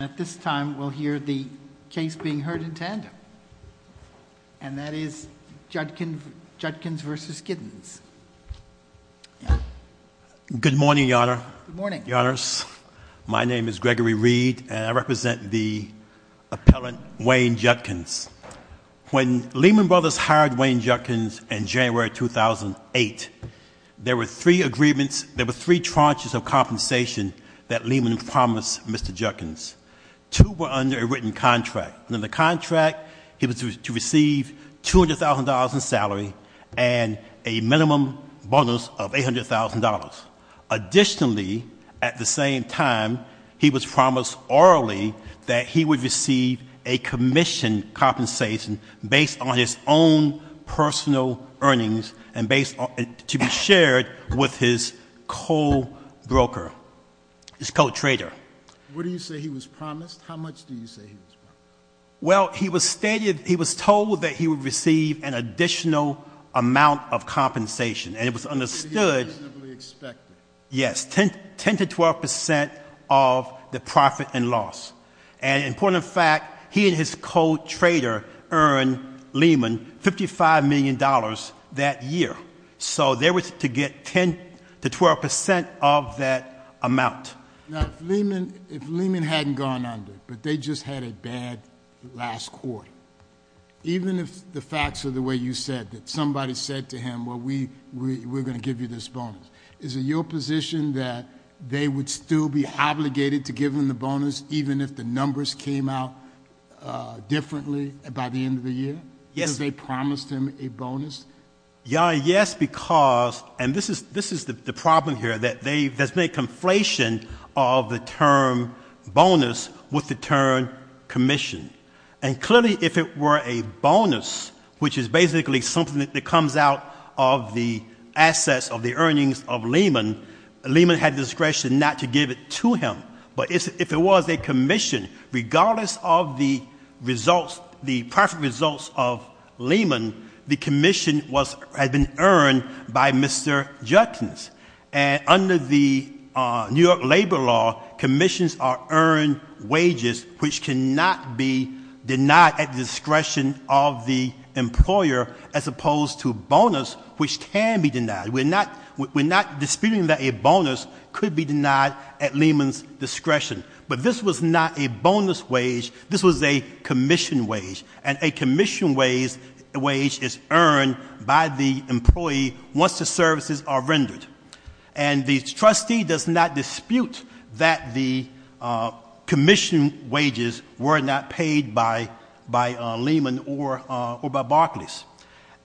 At this time, we'll hear the case being heard in tandem, and that is Judkins v. Giddens. Good morning, Your Honor. Good morning. Your Honors, my name is Gregory Reed, and I represent the appellant Wayne Judkins. When Lehman Brothers hired Wayne Judkins in January 2008, there were three tranches of compensation that Lehman promised Mr. Judkins. Two were under a written contract. In the contract, he was to receive $200,000 in salary and a minimum bonus of $800,000. Additionally, at the same time, he was promised orally that he would receive a commission compensation based on his own personal earnings and to be shared with his co-broker, his co-trader. What do you say he was promised? How much do you say he was promised? Well, he was stated, he was told that he would receive an additional amount of compensation. And it was understood- It was reasonably expected. Yes, 10 to 12% of the profit and loss. And important fact, he and his co-trader earned Lehman $55 million that year. So they were to get 10 to 12% of that amount. Now, if Lehman hadn't gone under, but they just had a bad last quarter, even if the facts are the way you said that somebody said to him, well, we're going to give you this bonus. Is it your position that they would still be obligated to give him the bonus, even if the numbers came out differently by the end of the year? Yes. Because they promised him a bonus? Yeah, yes, because, and this is the problem here, that there's been a conflation of the term bonus with the term commission. And clearly, if it were a bonus, which is basically something that comes out of the assets, the earnings of Lehman, Lehman had discretion not to give it to him. But if it was a commission, regardless of the profit results of Lehman, the commission had been earned by Mr. Judkins. And under the New York Labor Law, commissions are earned wages, which cannot be denied at the discretion of the employer, as opposed to bonus, which can be denied. We're not disputing that a bonus could be denied at Lehman's discretion. But this was not a bonus wage, this was a commission wage. And a commission wage is earned by the employee once the services are rendered. And the trustee does not dispute that the commission wages were not paid by Lehman or by Barclays.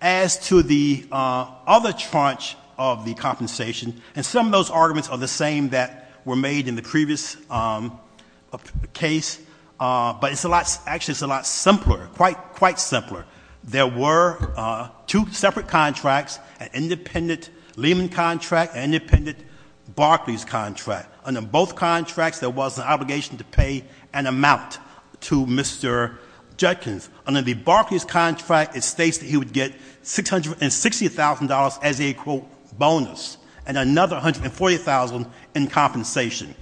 As to the other tranche of the compensation, and some of those arguments are the same that were made in the previous case. But actually, it's a lot simpler, quite simpler. There were two separate contracts, an independent Lehman contract, an independent Barclays contract. Under both contracts, there was an obligation to pay an amount to Mr. Judkins. Under the Barclays contract, it states that he would get $660,000 as a, quote, bonus, and another $140,000 in compensation.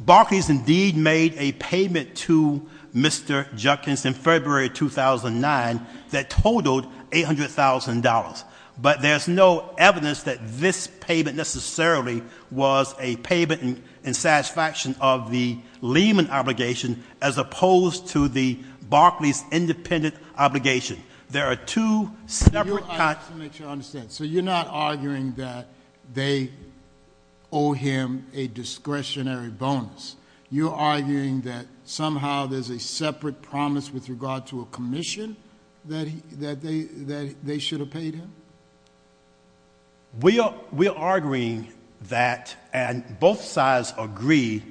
Barclays indeed made a payment to Mr. Judkins in February 2009 that totaled $800,000. But there's no evidence that this payment necessarily was a payment and dissatisfaction of the Lehman obligation as opposed to the Barclays independent obligation. There are two separate contracts. So you're not arguing that they owe him a discretionary bonus. You're arguing that somehow there's a separate promise with regard to a commission that they should have paid him? We're arguing that, and both sides agree,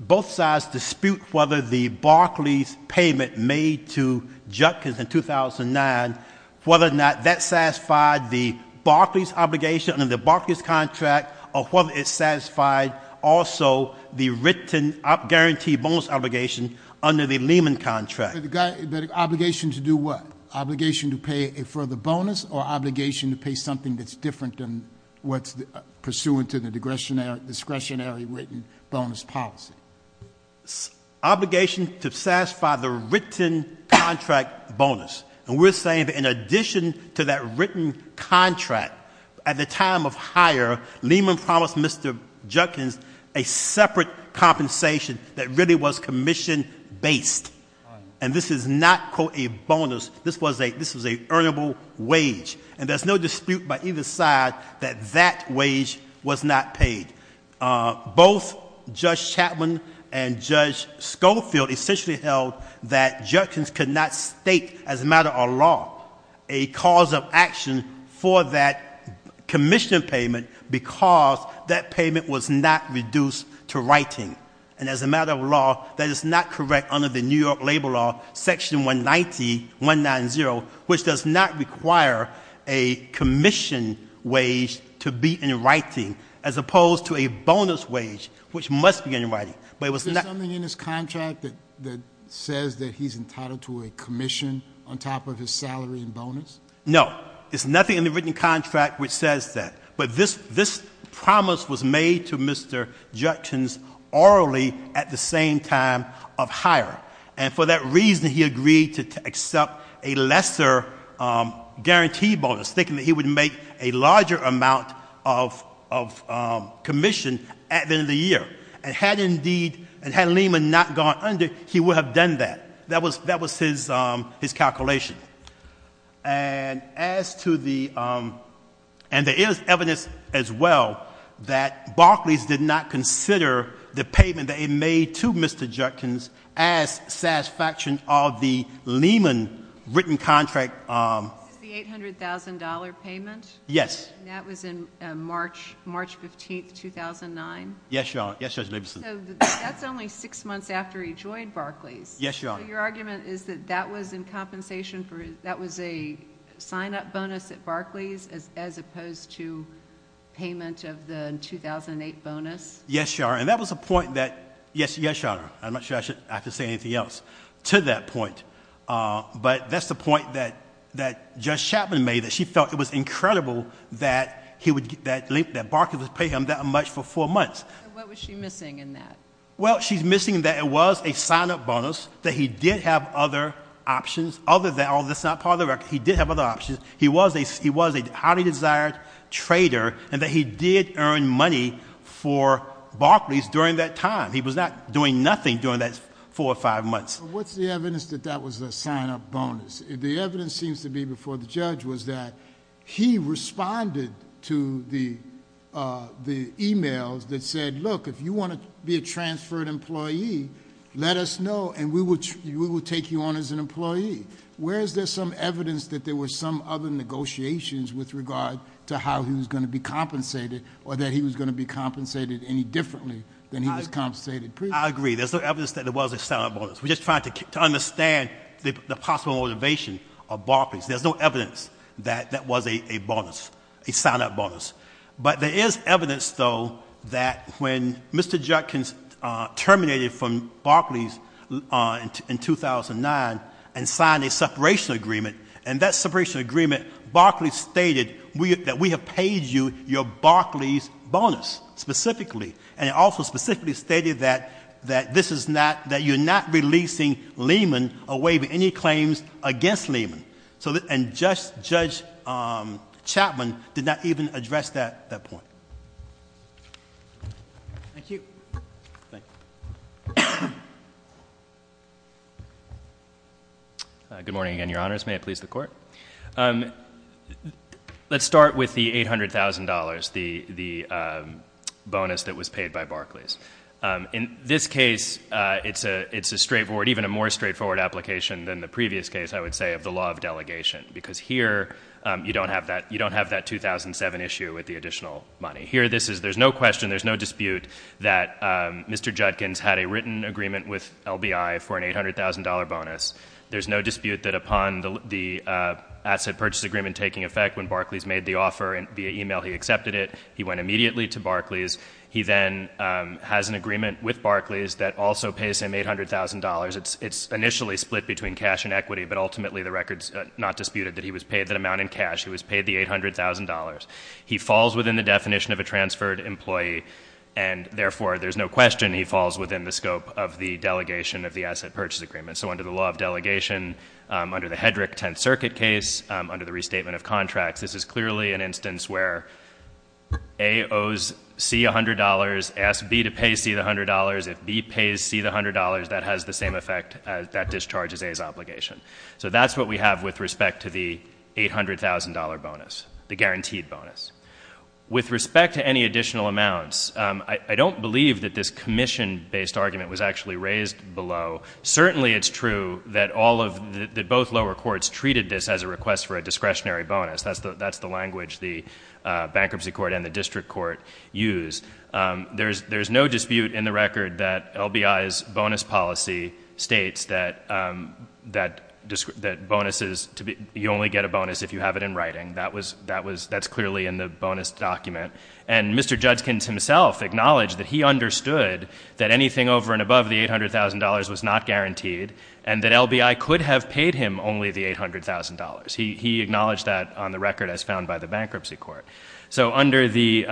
both sides dispute whether the Barclays payment made to Judkins in 2009, whether or not that satisfied the Barclays obligation under the Barclays contract, or whether it satisfied also the written up guaranteed bonus obligation under the Lehman contract. The obligation to do what? Obligation to pay a further bonus, or obligation to pay something that's different than what's pursuant to the discretionary written bonus policy? Obligation to satisfy the written contract bonus. And we're saying that in addition to that written contract, at the time of hire, Lehman promised Mr. Judkins a separate compensation that really was commission based. And this is not, quote, a bonus. This was an earnable wage. And there's no dispute by either side that that wage was not paid. Both Judge Chapman and Judge Schofield essentially held that Judkins could not state, as a matter of law, a cause of action for that commission payment, because that payment was not reduced to writing. And as a matter of law, that is not correct under the New York Labor Law, Section 190, which does not require a commission wage to be in writing, as opposed to a bonus wage, which must be in writing. But it was not- Is there something in his contract that says that he's entitled to a commission on top of his salary and bonus? No, there's nothing in the written contract which says that. But this promise was made to Mr. Judkins orally at the same time of hire. And for that reason, he agreed to accept a lesser guarantee bonus, thinking that he would make a larger amount of commission at the end of the year. And had indeed, and had Lehman not gone under, he would have done that. That was his calculation. And as to the, and there is evidence as well that Barclays did not consider the payment that he made to Mr. Judkins as satisfaction of the Lehman written contract. Is the $800,000 payment? Yes. And that was in March 15th, 2009? Yes, Your Honor. Yes, Judge Labeson. So that's only six months after he joined Barclays. Yes, Your Honor. So your argument is that that was in compensation for, that was a sign-up bonus at Barclays as opposed to payment of the 2008 bonus? Yes, Your Honor, and that was a point that, yes, Your Honor, I'm not sure I have to say anything else to that point. But that's the point that Judge Chapman made, that she felt it was incredible that Barclays would pay him that much for four months. What was she missing in that? Well, she's missing that it was a sign-up bonus, that he did have other options, other than, that's not part of the record, he did have other options. He was a highly desired trader, and that he did earn money for Barclays during that time. He was not doing nothing during that four or five months. What's the evidence that that was a sign-up bonus? The evidence seems to be before the judge was that he responded to the emails that said, look, if you want to be a transferred employee, let us know and we will take you on as an employee. Where is there some evidence that there were some other negotiations with regard to how he was going to be compensated or that he was going to be compensated any differently than he was compensated previously? I agree, there's no evidence that it was a sign-up bonus. We're just trying to understand the possible motivation of Barclays. There's no evidence that that was a sign-up bonus. But there is evidence, though, that when Mr. Judkins terminated from Barclays in 2009 and signed a separation agreement, and that separation agreement, Barclays stated that we have paid you your Barclays bonus specifically. And it also specifically stated that you're not releasing Lehman or waiving any claims against Lehman. And Judge Chapman did not even address that point. Thank you. Thank you. Good morning again, your honors. May it please the court. Let's start with the $800,000, the bonus that was paid by Barclays. In this case, it's a straightforward, even a more straightforward application than the previous case, I would say, of the law of delegation. Because here, you don't have that 2007 issue with the additional money. Here, there's no question, there's no dispute that Mr. Judkins had a written agreement with LBI for an $800,000 bonus. There's no dispute that upon the asset purchase agreement taking effect, when Barclays made the offer via email, he accepted it. He went immediately to Barclays. He then has an agreement with Barclays that also pays him $800,000. It's initially split between cash and equity, but ultimately the record's not disputed that he was paid that amount in cash. He was paid the $800,000. He falls within the definition of a transferred employee. And therefore, there's no question he falls within the scope of the delegation of the asset purchase agreement. So under the law of delegation, under the Hedrick Tenth Circuit case, under the restatement of contracts, this is clearly an instance where A owes C $100, asks B to pay C the $100. If B pays C the $100, that has the same effect as that discharges A's obligation. So that's what we have with respect to the $800,000 bonus, the guaranteed bonus. With respect to any additional amounts, I don't believe that this commission-based argument was actually raised below. Certainly, it's true that both lower courts treated this as a request for a discretionary bonus. That's the language the bankruptcy court and the district court use. There's no dispute in the record that LBI's bonus policy states that bonuses, you only get a bonus if you have it in writing. That's clearly in the bonus document. And Mr. Judkins himself acknowledged that he understood that anything over and above the $800,000 was not guaranteed, and that LBI could have paid him only the $800,000. He acknowledged that on the record as found by the bankruptcy court. So under the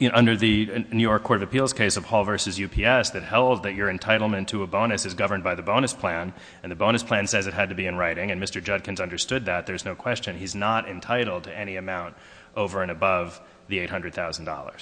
New York Court of Appeals case of Hall versus UPS, that held that your entitlement to a bonus is governed by the bonus plan, and the bonus plan says it had to be in writing. And Mr. Judkins understood that, there's no question, he's not entitled to any amount over and above the $800,000.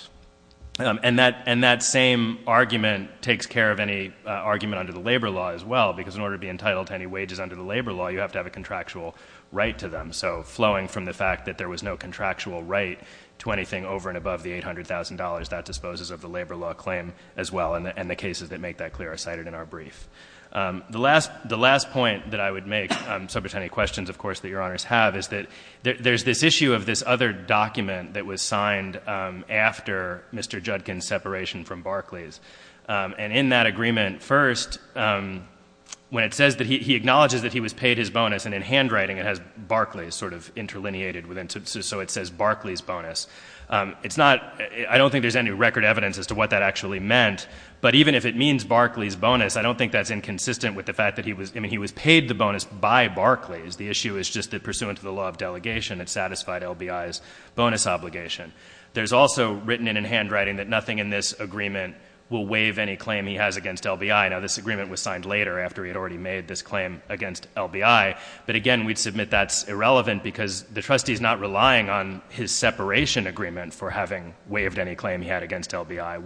And that same argument takes care of any argument under the labor law as well, because in order to be entitled to any wages under the labor law, you have to have a contractual right to them. So flowing from the fact that there was no contractual right to anything over and above the $800,000, that disposes of the labor law claim as well, and the cases that make that clear are cited in our brief. The last point that I would make, so if there's any questions, of course, that your honors have, is that there's this issue of this other document that was signed after Mr. Judkins' separation from Barclays. And in that agreement, first, when it says that he acknowledges that he was paid his bonus, and in handwriting it has Barclays sort of interlineated, so it says Barclays bonus. I don't think there's any record evidence as to what that actually meant. But even if it means Barclays bonus, I don't think that's inconsistent with the fact that he was paid the bonus by Barclays. The issue is just that pursuant to the law of delegation, it satisfied LBI's bonus obligation. There's also written in handwriting that nothing in this agreement will waive any claim he has against LBI. Now, this agreement was signed later, after he had already made this claim against LBI. But again, we'd submit that's irrelevant because the trustee's not relying on his separation agreement for having waived any claim he had against LBI.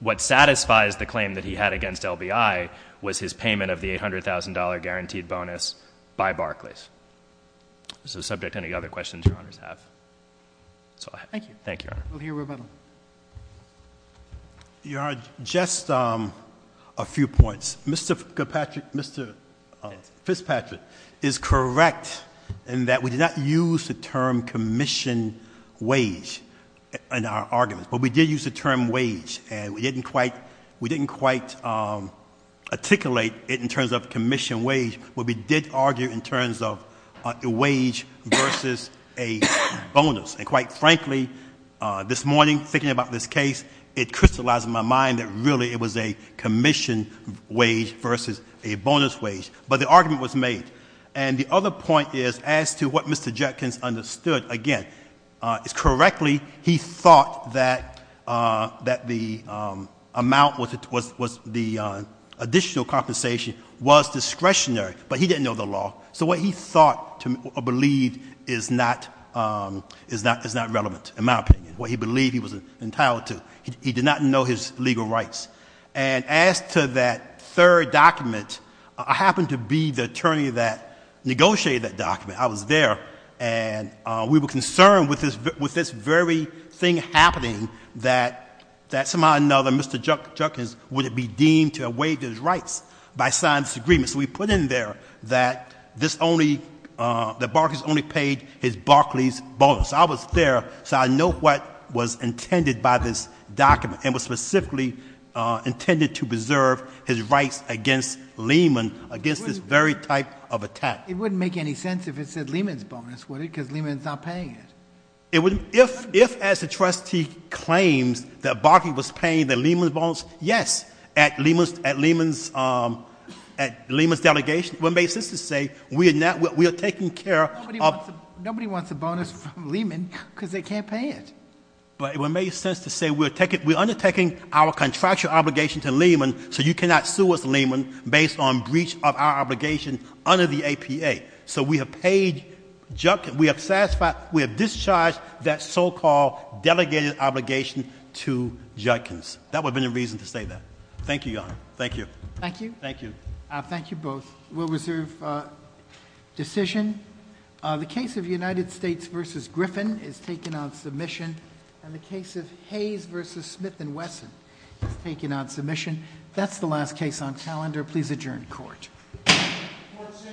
What satisfies the claim that he had against LBI was his payment of the $800,000 guaranteed bonus by Barclays. So subject to any other questions your honors have. So I- Thank you. Thank you, your honor. We'll hear rebuttal. Your honor, just a few points. Mr. Fitzpatrick is correct in that we did not use the term commission wage in our arguments. But we did use the term wage, and we didn't quite articulate it in terms of commission wage. But we did argue in terms of a wage versus a bonus. And quite frankly, this morning, thinking about this case, it crystallized in my mind that really it was a commission wage versus a bonus wage. But the argument was made. And the other point is, as to what Mr. Jenkins understood, again, it's correctly he thought that the amount was the additional compensation was discretionary, but he didn't know the law. So what he thought or believed is not relevant, in my opinion. What he believed he was entitled to. He did not know his legal rights. And as to that third document, I happened to be the attorney that negotiated that document. I was there, and we were concerned with this very thing happening, that somehow or another, Mr. Jenkins, would it be deemed to have waived his rights by signing this agreement. So we put in there that Barclays only paid his Barclays bonus. I was there, so I know what was intended by this document, and was specifically intended to preserve his rights against Lehman, against this very type of attack. It wouldn't make any sense if it said Lehman's bonus, would it, because Lehman's not paying it. If, as the trustee claims, that Barclay was paying the Lehman's bonus, yes, at Lehman's delegation, it would make sense to say, we are taking care of- Nobody wants a bonus from Lehman, because they can't pay it. But it would make sense to say, we're undertaking our contractual obligation to Lehman, so you cannot sue us, Lehman, based on breach of our obligation under the APA. So we have paid Jenkins, we have satisfied, we have discharged that so-called delegated obligation to Jenkins. That would have been the reason to say that. Thank you, Your Honor. Thank you. Thank you. Thank you. Thank you both. We'll reserve decision. The case of United States versus Griffin is taken on submission. And the case of Hayes versus Smith and Wesson is taken on submission. That's the last case on calendar. Please adjourn court. Court is adjourned.